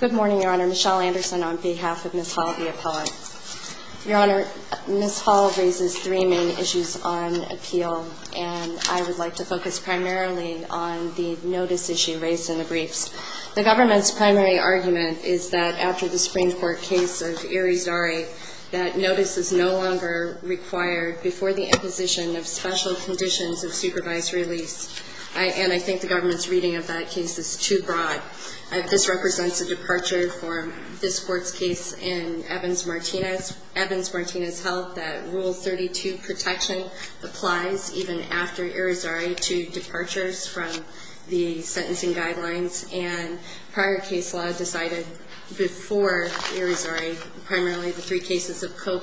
Good morning, Your Honor. Michelle Anderson on behalf of Ms. Hall, the appellant. Your Honor, Ms. Hall raises three main issues on appeal, and I would like to focus primarily on the notice issue raised in the briefs. The government's primary argument is that after the Supreme Court case of Irizdari, that notice is no longer required before the imposition of special conditions of supervised release, and I think the government's reading of that case is too broad. This represents a departure for this Court's case in Evans-Martinez. Evans-Martinez held that Rule 32 protection applies even after Irizdari to departures from the sentencing guidelines, and prior case law decided before Irizdari primarily the three cases of Cope,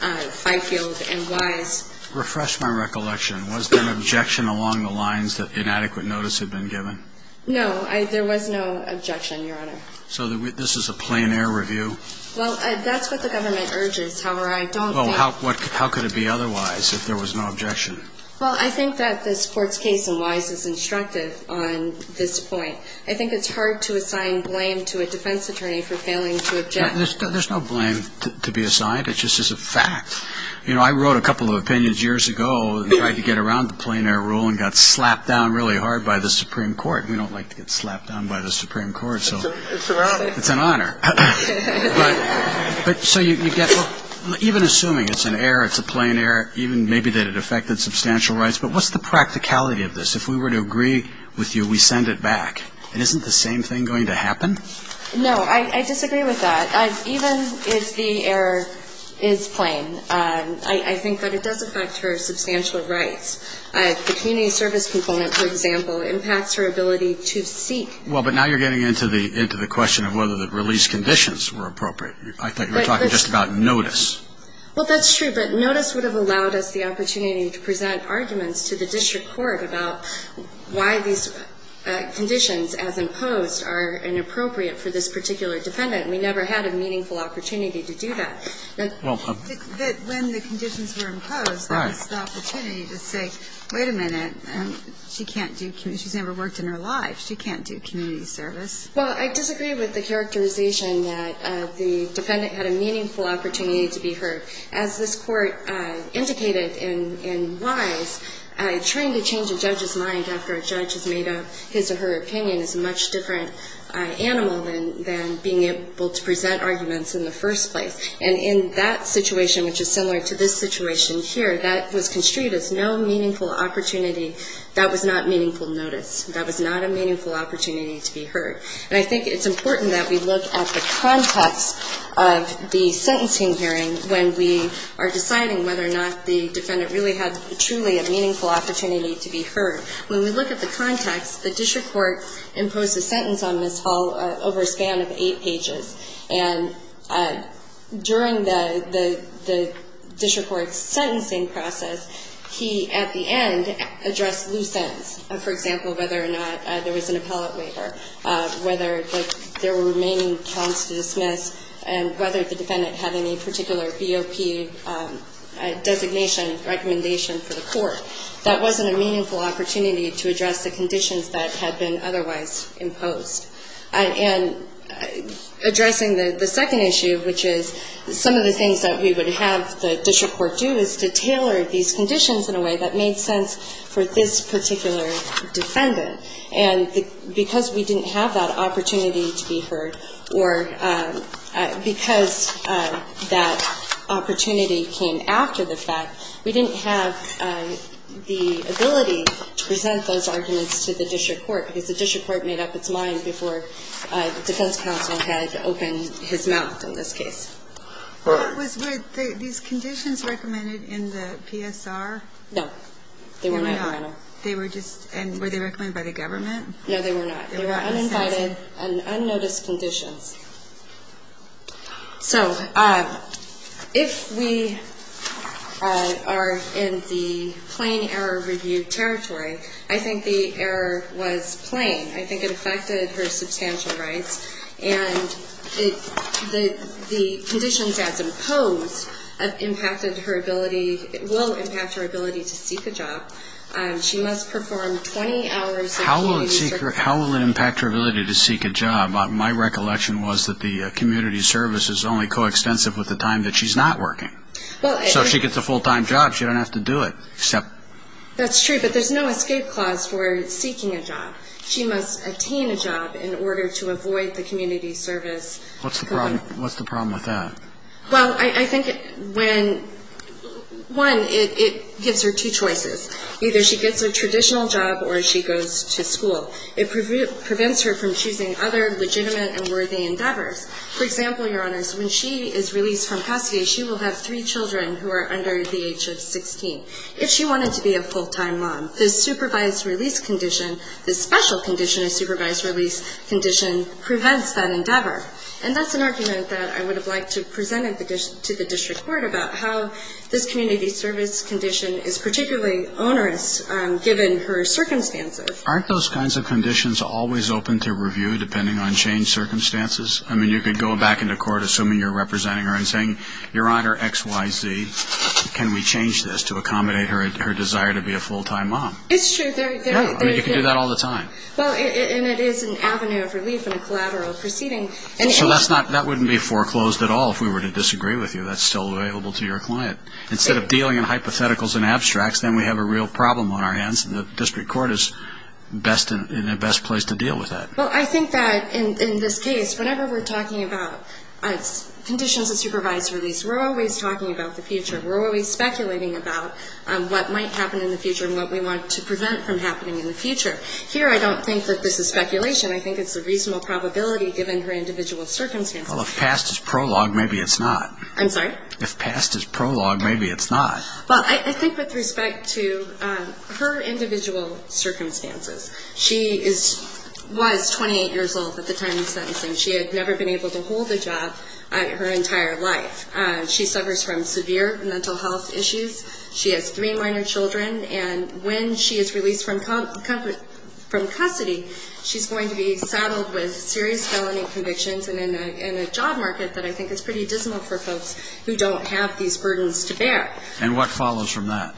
Fifield, and Wise. Refresh my recollection. Was there an objection along the lines that inadequate notice had been given? No, there was no objection, Your Honor. So this is a plein air review? Well, that's what the government urges. However, I don't think Well, how could it be otherwise if there was no objection? Well, I think that this Court's case in Wise is instructive on this point. I think it's hard to assign blame to a defense attorney for failing to object. There's no blame to be assigned. It's just a fact. You know, I wrote a couple of opinions years ago and tried to get around the plein air rule and got slapped down really hard by the Supreme Court. We don't like to get slapped down by the Supreme Court. It's an honor. It's an honor. But so you get even assuming it's an error, it's a plein air, even maybe that it affected substantial rights, but what's the practicality of this? If we were to agree with you, we send it back, and isn't the same thing going to happen? No, I disagree with that. Even if the error is plein, I think that it does affect her substantial rights. The community service component, for example, impacts her ability to seek. Well, but now you're getting into the question of whether the release conditions were appropriate. I thought you were talking just about notice. Well, that's true. But notice would have allowed us the opportunity to present arguments to the district court about why these conditions as imposed are inappropriate for this particular defendant. We never had a meaningful opportunity to do that. But when the conditions were imposed, that was the opportunity to say, wait a minute, she can't do community – she's never worked in her life. She can't do community service. Well, I disagree with the characterization that the defendant had a meaningful opportunity to be heard. As this Court indicated in Wise, trying to change a judge's mind after a judge has made up his or her opinion is a much different animal than being able to present arguments in the first place. And in that situation, which is similar to this situation here, that was construed as no meaningful opportunity. That was not meaningful notice. That was not a meaningful opportunity to be heard. And I think it's important that we look at the context of the sentencing hearing when we are deciding whether or not the defendant really had truly a meaningful opportunity to be heard. When we look at the context, the district court imposed a sentence on Ms. Hall over a span of eight pages. And during the district court's sentencing process, he, at the end, addressed loose ends. For example, whether or not there was an appellate waiver, whether there were remaining counts to dismiss, and whether the defendant had any particular BOP designation recommendation for the court. That wasn't a meaningful opportunity to address the conditions that had been otherwise imposed. And addressing the second issue, which is some of the things that we would have the district court do is to tailor these conditions in a way that made sense for this particular defendant. And because we didn't have that opportunity to be heard or because that opportunity came after the fact, we didn't have the ability to present those arguments to the district court. Because the district court made up its mind before the defense counsel had opened his mouth in this case. What was, were these conditions recommended in the PSR? No. They were not. They were not. They were just, and were they recommended by the government? No, they were not. They were uninvited and unnoticed conditions. So if we are in the plain error review territory, I think the error was plain. I think it affected her substantial rights. And the conditions as imposed have impacted her ability, will impact her ability to seek a job. She must perform 20 hours of duty. How will it impact her ability to seek a job? My recollection was that the community service is only coextensive with the time that she's not working. So if she gets a full-time job, she doesn't have to do it. That's true, but there's no escape clause for seeking a job. She must attain a job in order to avoid the community service. What's the problem with that? Well, I think when, one, it gives her two choices. Either she gets a traditional job or she goes to school. It prevents her from choosing other legitimate and worthy endeavors. For example, Your Honors, when she is released from Cassier, she will have three children who are under the age of 16. If she wanted to be a full-time mom, the supervised release condition, the special condition of supervised release condition prevents that endeavor. And that's an argument that I would have liked to have presented to the district court about how this community service condition is particularly onerous given her circumstances. Aren't those kinds of conditions always open to review, depending on changed circumstances? I mean, you could go back into court, assuming you're representing her, and saying, Your Honor, X, Y, Z, can we change this to accommodate her desire to be a full-time mom? It's true. I mean, you can do that all the time. Well, and it is an avenue of relief in a collateral proceeding. So that wouldn't be foreclosed at all if we were to disagree with you. That's still available to your client. Instead of dealing in hypotheticals and abstracts, then we have a real problem on our hands. And the district court is best in a best place to deal with that. Well, I think that in this case, whenever we're talking about conditions of supervised release, we're always talking about the future. We're always speculating about what might happen in the future and what we want to prevent from happening in the future. Here I don't think that this is speculation. I think it's a reasonable probability given her individual circumstances. Well, if past is prologue, maybe it's not. I'm sorry? If past is prologue, maybe it's not. Well, I think with respect to her individual circumstances, she was 28 years old at the time of sentencing. She had never been able to hold a job her entire life. She suffers from severe mental health issues. She has three minor children. And when she is released from custody, she's going to be saddled with serious felony convictions and in a job market that I think is pretty dismal for folks who don't have these burdens to bear. And what follows from that?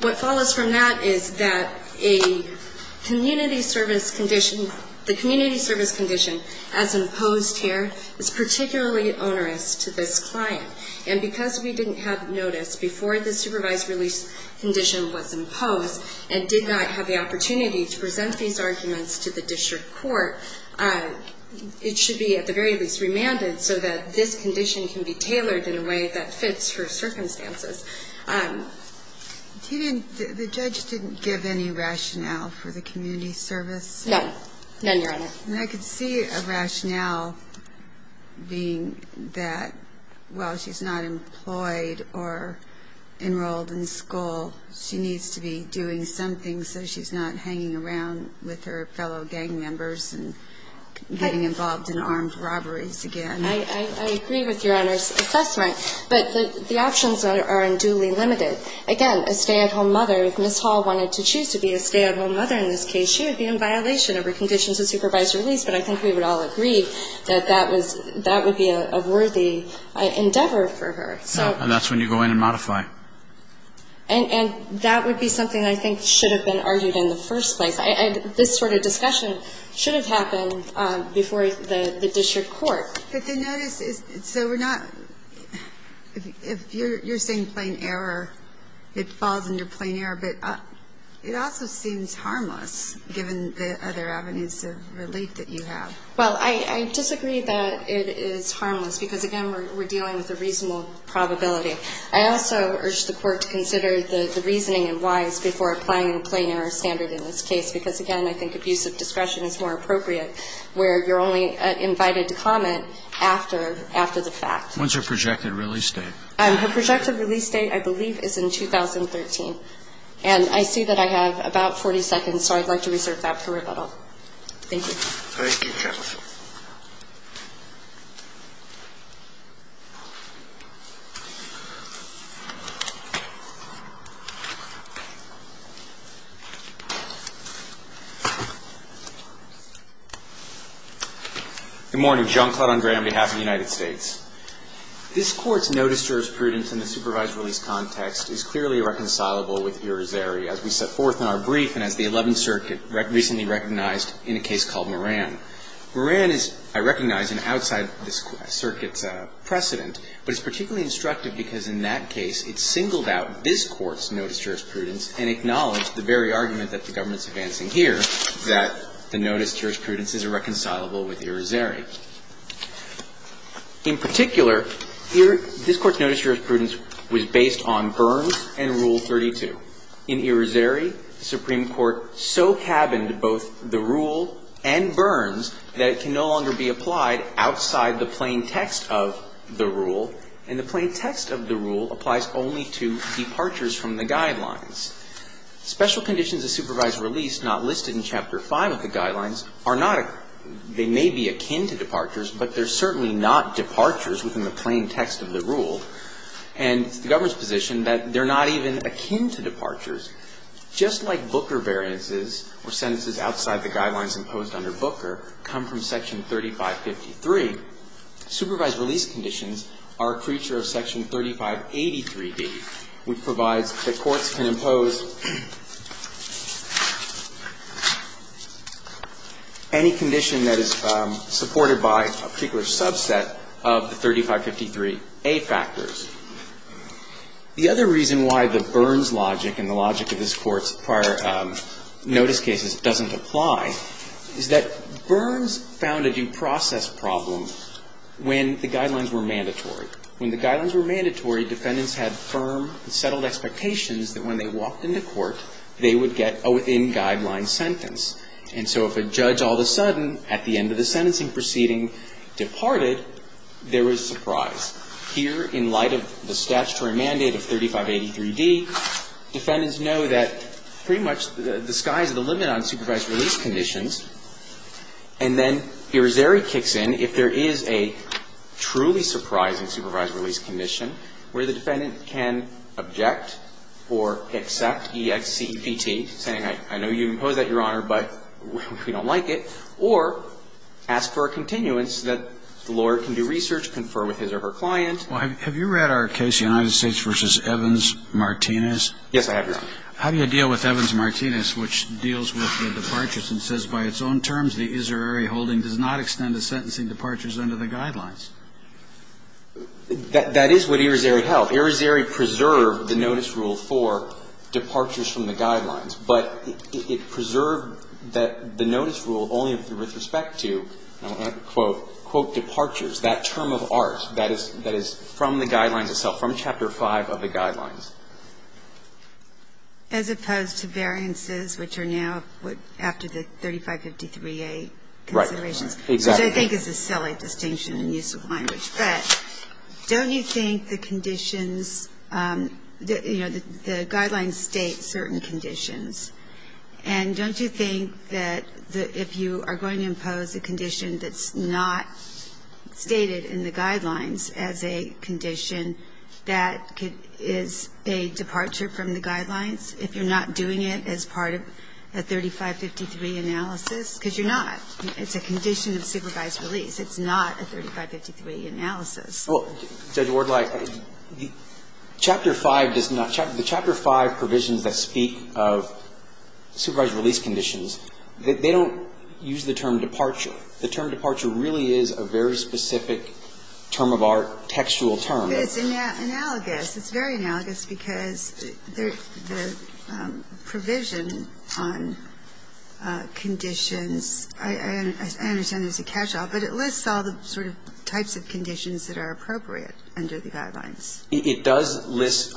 What follows from that is that a community service condition, the community service condition as imposed here is particularly onerous to this client. And because we didn't have notice before the supervised release condition was imposed and did not have the opportunity to present these arguments to the district court, it should be at the very least remanded so that this condition can be tailored in a way that fits her circumstances. The judge didn't give any rationale for the community service? No. None, Your Honor. And I could see a rationale being that while she's not employed or enrolled in school, she needs to be doing something so she's not hanging around with her fellow gang members and getting involved in armed robberies again. I agree with Your Honor's assessment. But the options are unduly limited. Again, a stay-at-home mother, if Ms. Hall wanted to choose to be a stay-at-home mother in this case, she would be in violation of her conditions of supervised release, but I think we would all agree that that would be a worthy endeavor for her. And that's when you go in and modify. And that would be something I think should have been argued in the first place. This sort of discussion should have happened before the district court. But the notice is so we're not – if you're saying plain error, it falls under plain error, but it also seems harmless given the other avenues of relief that you have. Well, I disagree that it is harmless because, again, we're dealing with a reasonable probability. I also urge the court to consider the reasoning and whys before applying a plain error standard in this case because, again, I think abusive discretion is more appropriate where you're only invited to comment after – after the fact. When's her projected release date? Her projected release date, I believe, is in 2013. And I see that I have about 40 seconds, so I'd like to reserve that for rebuttal. Thank you. Thank you, counsel. Good morning. John Clouton Gray on behalf of the United States. This Court's notice to her as prudent in the supervised release context is clearly reconcilable with Irizarry as we set forth in our brief and as the Eleventh Circuit recently recognized in a case called Moran. Moran is, I recognize, an outside of this Circuit's precedent, but it's particularly instructive because in that case it singled out this Court's notice to her as prudence and acknowledged the very argument that the government's advancing here, that the notice to her as prudence is irreconcilable with Irizarry. In particular, this Court's notice to her as prudence was based on Burns and Rule 32. In Irizarry, the Supreme Court so cabined both the Rule and Burns that it can no longer be applied outside the plain text of the Rule, and the plain text of the Rule applies only to departures from the Guidelines. Special conditions of supervised release not listed in Chapter 5 of the Guidelines are not, they may be akin to departures, but they're certainly not departures within the plain text of the Rule. And it's the government's position that they're not even akin to departures. Just like Booker variances or sentences outside the Guidelines imposed under Booker come from Section 3553, supervised release conditions are a creature of Section 3583d, which provides that courts can impose any condition that is supported by a particular subset of the 3553a factors. The other reason why the Burns logic and the logic of this Court's prior notice cases doesn't apply is that Burns found a due process problem when the Guidelines were mandatory. When the Guidelines were mandatory, defendants had firm and settled expectations that when they walked into court, they would get a within Guidelines sentence. And so if a judge all of a sudden, at the end of the sentencing proceeding, departed, there was surprise. Here, in light of the statutory mandate of 3583d, defendants know that pretty much the sky's the limit on supervised release conditions. And then Irizarry kicks in if there is a truly surprising supervised release condition where the defendant can object or accept, E-X-C-P-T, saying, I know you don't like it, or ask for a continuance so that the lawyer can do research, confer with his or her client. Well, have you read our case, United States v. Evans-Martinez? Yes, I have, Your Honor. How do you deal with Evans-Martinez, which deals with the departures and says, by its own terms, the izarrary holding does not extend the sentencing departures under the Guidelines? That is what Irizarry held. Irizarry preserved the notice rule for departures from the Guidelines, but it preserved the notice rule only with respect to, quote, quote, departures, that term of ours, that is from the Guidelines itself, from Chapter 5 of the Guidelines. As opposed to variances, which are now after the 3553a considerations. Right. Exactly. Which I think is a silly distinction in use of language. But don't you think the conditions, you know, the Guidelines state certain conditions, and don't you think that if you are going to impose a condition that's not stated in the Guidelines as a condition, that is a departure from the Guidelines if you're not doing it as part of the 3553 analysis? Because you're not. It's a condition of supervised release. It's not a 3553 analysis. Well, Judge Wardlife, Chapter 5 does not chapter the Chapter 5 provisions that speak of supervised release conditions. They don't use the term departure. The term departure really is a very specific term of our textual term. But it's analogous. It's very analogous because the provision on conditions, I understand there's a catch-all, but it lists all the sort of types of conditions that are appropriate under the Guidelines. It does list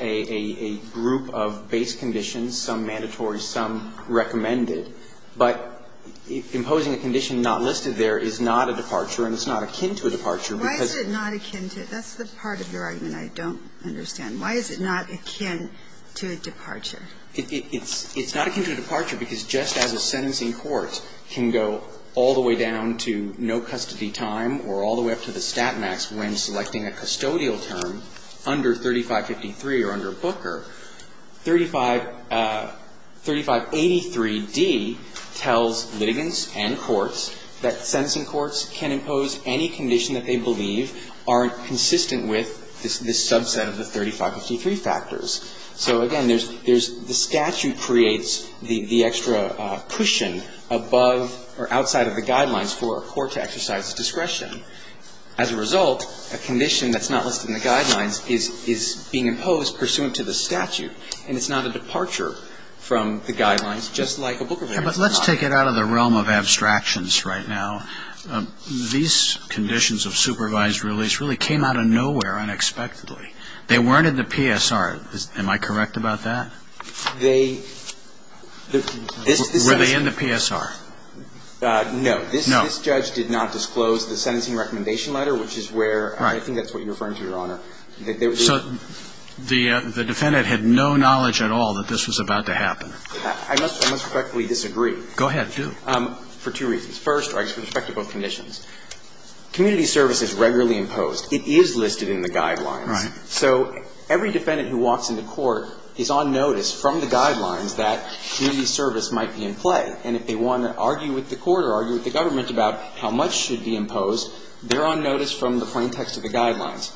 a group of base conditions, some mandatory, some recommended. But imposing a condition not listed there is not a departure, and it's not akin to a departure because of the statute. That's the part of your argument I don't understand. Why is it not akin to a departure? It's not akin to a departure because just as a sentencing court can go all the way down to no custody time or all the way up to the stat max when selecting a custodial term under 3553 or under Booker, 3583d tells litigants and courts that sentencing courts can impose any condition that they believe aren't consistent with this subset of the 3553 factors. So, again, there's the statute creates the extra cushion above or outside of the Guidelines for a court to exercise discretion. As a result, a condition that's not listed in the Guidelines is being imposed pursuant to the statute, and it's not a departure from the Guidelines, just like a Booker v. Brown. But let's take it out of the realm of abstractions right now. These conditions of supervised release really came out of nowhere unexpectedly. They weren't in the PSR. Am I correct about that? They – Were they in the PSR? No. No. This judge did not disclose the sentencing recommendation letter, which is where I think that's what you're referring to, Your Honor. So the defendant had no knowledge at all that this was about to happen. I must respectfully disagree. Go ahead. Do. For two reasons. First, with respect to both conditions, community service is regularly imposed. It is listed in the Guidelines. Right. So every defendant who walks into court is on notice from the Guidelines that community service might be in play. And if they want to argue with the court or argue with the government about how much should be imposed, they're on notice from the plain text of the Guidelines.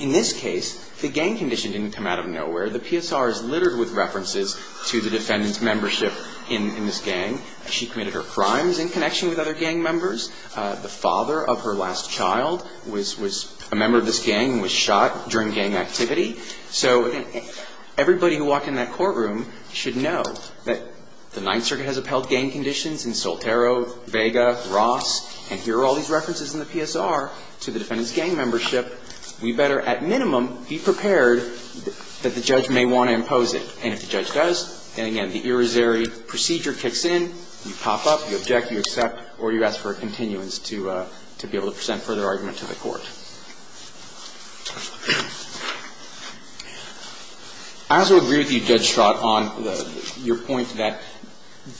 In this case, the gang condition didn't come out of nowhere. The PSR is littered with references to the defendant's membership in this gang. She committed her crimes in connection with other gang members. The father of her last child was a member of this gang and was shot during gang activity. So everybody who walked in that courtroom should know that the Ninth Circuit has listed gang conditions in Soltero, Vega, Ross, and here are all these references in the PSR to the defendant's gang membership. We better, at minimum, be prepared that the judge may want to impose it. And if the judge does, then again, the irisary procedure kicks in, you pop up, you object, you accept, or you ask for a continuance to be able to present further argument to the court. I also agree with you, Judge Stroud, on your point that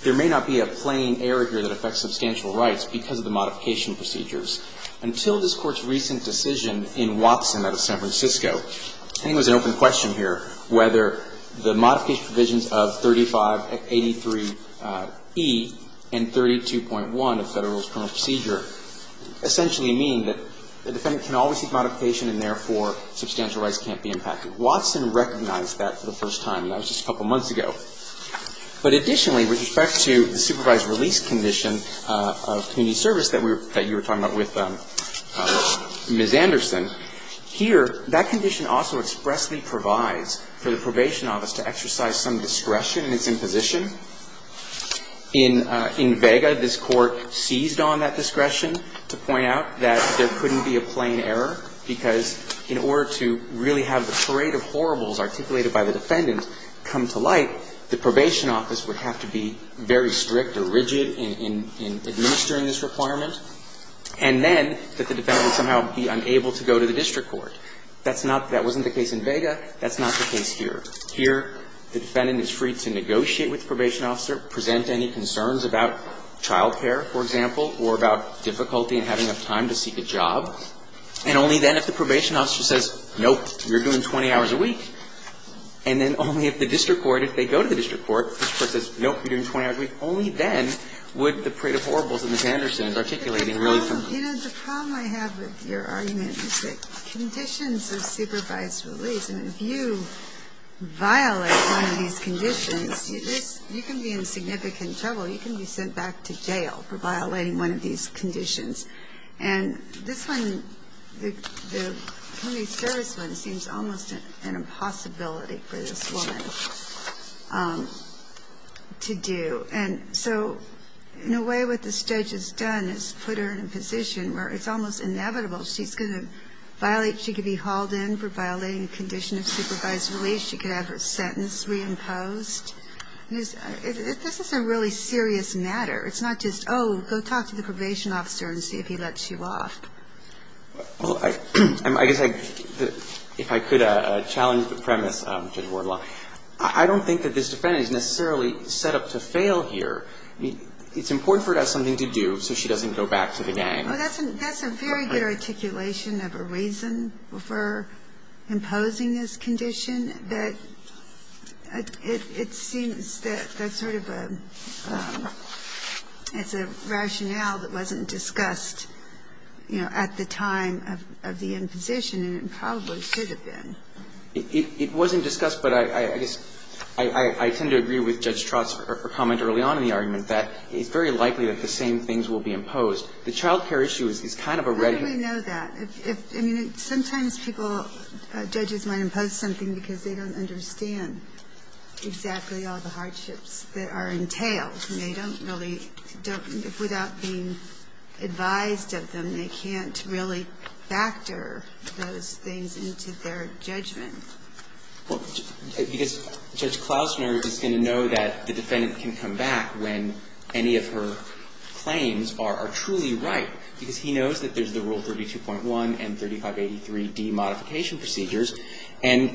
there may not be a plain error here that affects substantial rights because of the modification procedures. Until this Court's recent decision in Watson out of San Francisco, I think it was an open question here whether the modification provisions of 3583E and 32.1 of Federal Rules of Criminal Procedure essentially mean that the defendant can't be charged and can always seek modification and therefore substantial rights can't be impacted. Watson recognized that for the first time. That was just a couple of months ago. But additionally, with respect to the supervised release condition of community service that you were talking about with Ms. Anderson, here, that condition also expressly provides for the probation office to exercise some discretion in its imposition. In Vega, this Court seized on that discretion to point out that there couldn't be a plain error because in order to really have the parade of horribles articulated by the defendant come to light, the probation office would have to be very strict or rigid in administering this requirement. And then that the defendant would somehow be unable to go to the district court. That's not the case in Vega. That's not the case here. Here, the defendant is free to negotiate with the probation officer, present any concerns about child care, for example, or about difficulty in having enough time to seek a job, and only then if the probation officer says, nope, you're doing 20 hours a week, and then only if the district court, if they go to the district court, this Court says, nope, you're doing 20 hours a week, only then would the parade of horribles that Ms. Anderson is articulating really come to light. You know, the problem I have with your argument is that conditions of supervised release, and if you violate one of these conditions, you can be in significant trouble. You can be sent back to jail for violating one of these conditions. And this one, the community service one, seems almost an impossibility for this woman to do. And so in a way, what this judge has done is put her in a position where it's almost inevitable she's going to violate. She could be hauled in for violating a condition of supervised release. She could have her sentence reimposed. This is a really serious matter. It's not just, oh, go talk to the probation officer and see if he lets you off. Well, I guess if I could challenge the premise, Judge Wardlaw, I don't think that this defendant is necessarily set up to fail here. I mean, it's important for her to have something to do so she doesn't go back to the gang. Well, that's a very good articulation of a reason for imposing this condition. But it seems that that's sort of a – it's a rationale that wasn't discussed, you know, at the time of the imposition, and it probably should have been. It wasn't discussed, but I guess I tend to agree with Judge Trotz's comment early on in the argument that it's very likely that the same things will be imposed. The child care issue is kind of a ready – How do we know that? I mean, sometimes people, judges might impose something because they don't understand exactly all the hardships that are entailed. And they don't really – without being advised of them, they can't really factor those things into their judgment. Well, because Judge Klausner is going to know that the defendant can come back when any of her claims are truly right, because he knows that there's the Rule 32.1 and 3583d modification procedures. And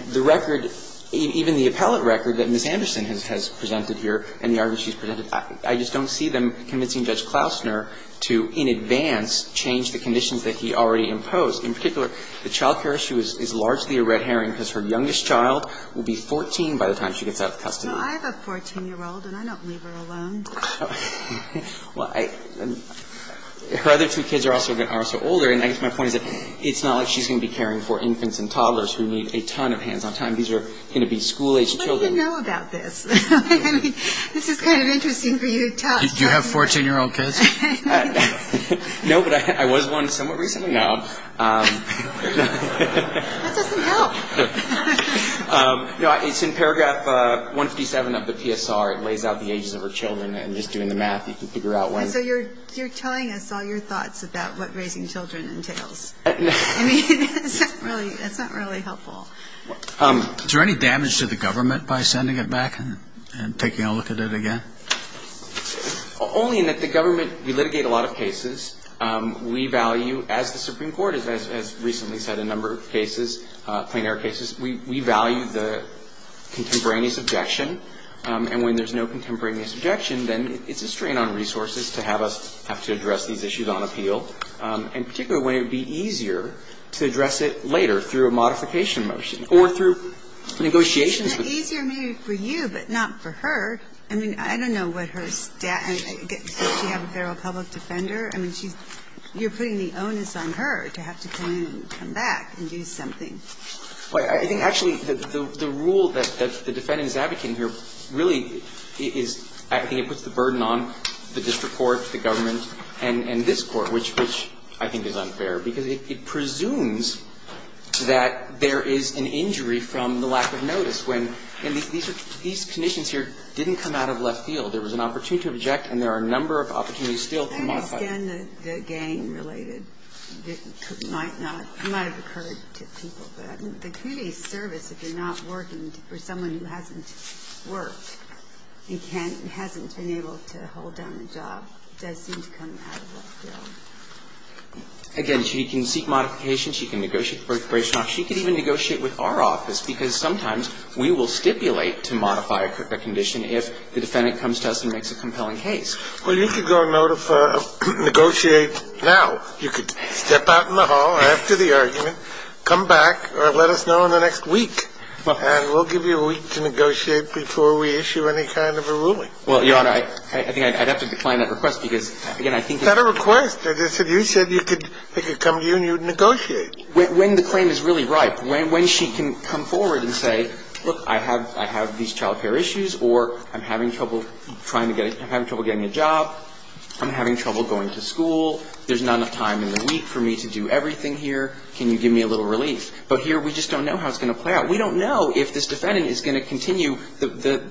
the record, even the appellate record that Ms. Anderson has presented here and the argument she's presented, I just don't see them convincing Judge Klausner to, in advance, change the conditions that he already imposed. In particular, the child care issue is largely a red herring because her youngest child will be 14 by the time she gets out of custody. Well, I have a 14-year-old, and I don't leave her alone. Well, I – her other two kids are also older. And I guess my point is that it's not like she's going to be caring for infants and toddlers who need a ton of hands-on time. These are going to be school-age children. What do you know about this? I mean, this is kind of interesting for you to talk about. Do you have 14-year-old kids? No, but I was one somewhat recently. No. That doesn't help. No, it's in paragraph 157 of the PSR. It lays out the ages of her children. And just doing the math, you can figure out when. And so you're telling us all your thoughts about what raising children entails. I mean, that's not really helpful. Is there any damage to the government by sending it back and taking a look at it again? Only in that the government, we litigate a lot of cases. We value, as the Supreme Court has recently said, a number of cases, plain-air cases. We value the contemporaneous objection. And when there's no contemporaneous objection, then it's a strain on resources to have us have to address these issues on appeal, and particularly when it would be easier to address it later through a modification motion or through negotiations. Isn't it easier maybe for you, but not for her? I mean, I don't know what her status – does she have a federal public defender? I mean, she's – you're putting the onus on her to have to come in and come back and do something. I think actually the rule that the defendant is advocating here really is – I think it puts the burden on the district court, the government, and this Court, which I think is unfair, because it presumes that there is an injury from the lack of notice when – and these conditions here didn't come out of left field. There was an opportunity to object, and there are a number of opportunities still to modify. I understand the gain-related. It might not – it might have occurred to people. But the community service, if you're not working for someone who hasn't worked and can't – hasn't been able to hold down the job, does seem to come out of left field. Again, she can seek modification. She can negotiate the birth-birth-and-off. She could even negotiate with our office, because sometimes we will stipulate to modify a condition if the defendant comes to us and makes a compelling case. Well, you could go and notify – negotiate now. You could step out in the hall after the argument, come back, or let us know in the next week. And we'll give you a week to negotiate before we issue any kind of a ruling. Well, Your Honor, I think I'd have to decline that request, because, again, I think it's It's not a request. I just said you said you could – they could come to you and you'd negotiate. When the claim is really ripe, when she can come forward and say, look, I have – I have these child care issues, or I'm having trouble trying to get – I'm having trouble getting a job. I'm having trouble going to school. There's not enough time in the week for me to do everything here. Can you give me a little relief? But here we just don't know how it's going to play out. We don't know if this defendant is going to continue the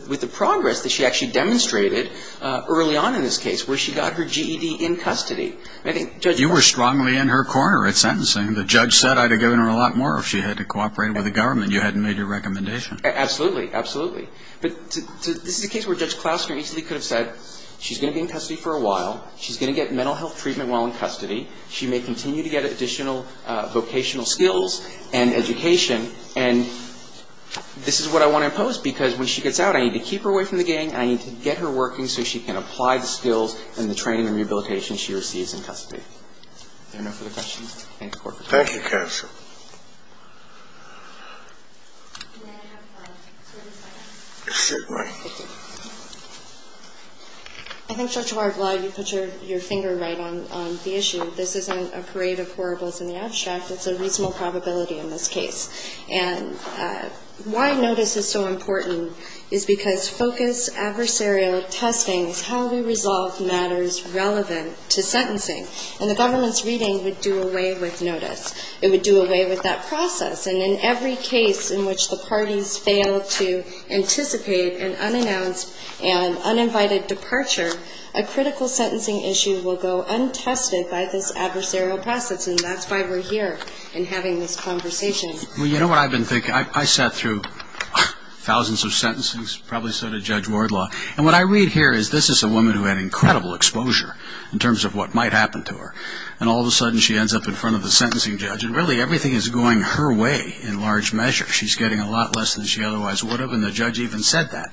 – with the progress that she actually demonstrated early on in this case, where she got her GED in custody. I think Judge – You were strongly in her corner at sentencing. The judge said I'd have given her a lot more if she had to cooperate with the government. You hadn't made your recommendation. Absolutely. Absolutely. But this is a case where Judge Klausner easily could have said she's going to be in custody for a while. She's going to get mental health treatment while in custody. She may continue to get additional vocational skills and education. And this is what I want to impose, because when she gets out, I need to keep her away from the gang. I need to get her working so she can apply the skills and the training and rehabilitation she receives in custody. Is there enough for the questions? Thank you, Court. Thank you, counsel. Can I have 30 seconds? Certainly. I think, Judge Warren, while you put your finger right on the issue, I'm going to say that this isn't a parade of horribles in the abstract. It's a reasonable probability in this case. And why notice is so important is because focused adversarial testing is how we resolve matters relevant to sentencing. And the government's reading would do away with notice. It would do away with that process. And in every case in which the parties fail to anticipate an unannounced and uninvited And that's why we're here in having this conversation. Well, you know what I've been thinking? I sat through thousands of sentences, probably so did Judge Wardlaw. And what I read here is this is a woman who had incredible exposure in terms of what might happen to her. And all of a sudden, she ends up in front of the sentencing judge. And really, everything is going her way in large measure. She's getting a lot less than she otherwise would have. And the judge even said that.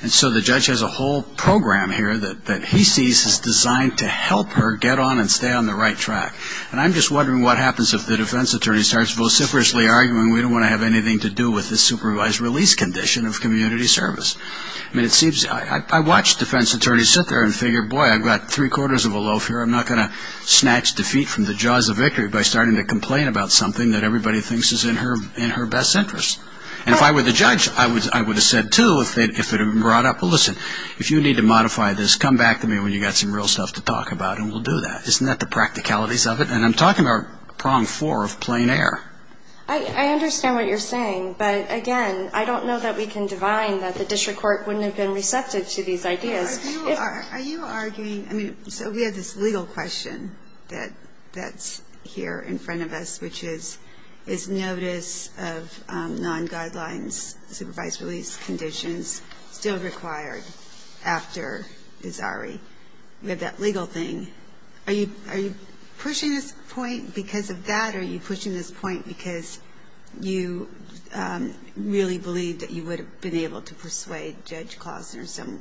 And so the judge has a whole program here that he sees is designed to help her get on and stay on the right track. And I'm just wondering what happens if the defense attorney starts vociferously arguing we don't want to have anything to do with this supervised release condition of community service. I mean, it seems I watched defense attorneys sit there and figure, boy, I've got three quarters of a loaf here. I'm not going to snatch defeat from the jaws of victory by starting to complain about something that everybody thinks is in her best interest. And if I were the judge, I would have said, too, if it had been brought up, well, listen, if you need to modify this, come back to me when you've got some real stuff to talk about and we'll do that. Isn't that the practicalities of it? And I'm talking about prong four of plain air. I understand what you're saying. But, again, I don't know that we can divine that the district court wouldn't have been receptive to these ideas. Are you arguing? I mean, so we have this legal question that's here in front of us, which is, is notice of non-guidelines, supervised release conditions still required after bizarre? You have that legal thing. Are you pushing this point because of that? Or are you pushing this point because you really believe that you would have been able to persuade Judge Kloss or some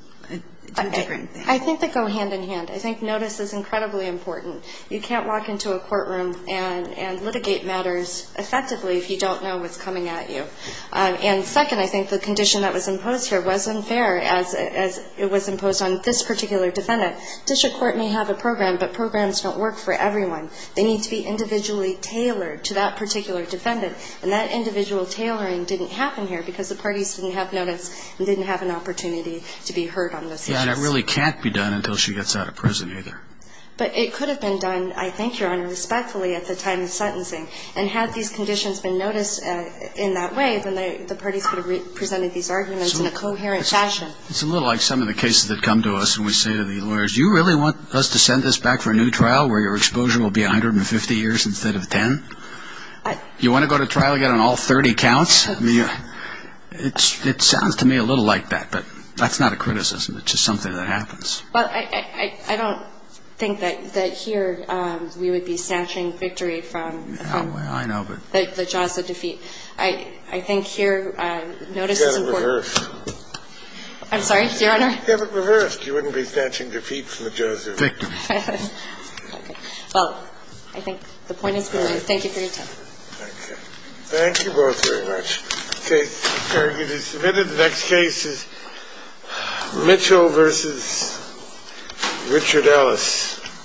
different thing? Okay. I think they go hand in hand. I think notice is incredibly important. You can't walk into a courtroom and litigate matters effectively if you don't know what's coming at you. And, second, I think the condition that was imposed here was unfair, as it was imposed on this particular defendant. District court may have a program, but programs don't work for everyone. They need to be individually tailored to that particular defendant. And that individual tailoring didn't happen here because the parties didn't have notice and didn't have an opportunity to be heard on those issues. And it really can't be done until she gets out of prison, either. But it could have been done, I think, Your Honor, respectfully at the time of sentencing. And had these conditions been noticed in that way, then the parties could have presented these arguments in a coherent fashion. It's a little like some of the cases that come to us when we say to the lawyers, you really want us to send this back for a new trial where your exposure will be 150 years instead of 10? You want to go to trial again on all 30 counts? I mean, it sounds to me a little like that. But that's not a criticism. It's just something that happens. Well, I don't think that here we would be snatching victory from the jaws of defeat. I think here notice is important. Give it reversed. I'm sorry, Your Honor? Give it reversed. You wouldn't be snatching defeat from the jaws of victory. Well, I think the point is clear. Thank you for your time. Thank you both very much. The case is submitted. The next case is Mitchell v. Richard Ellis.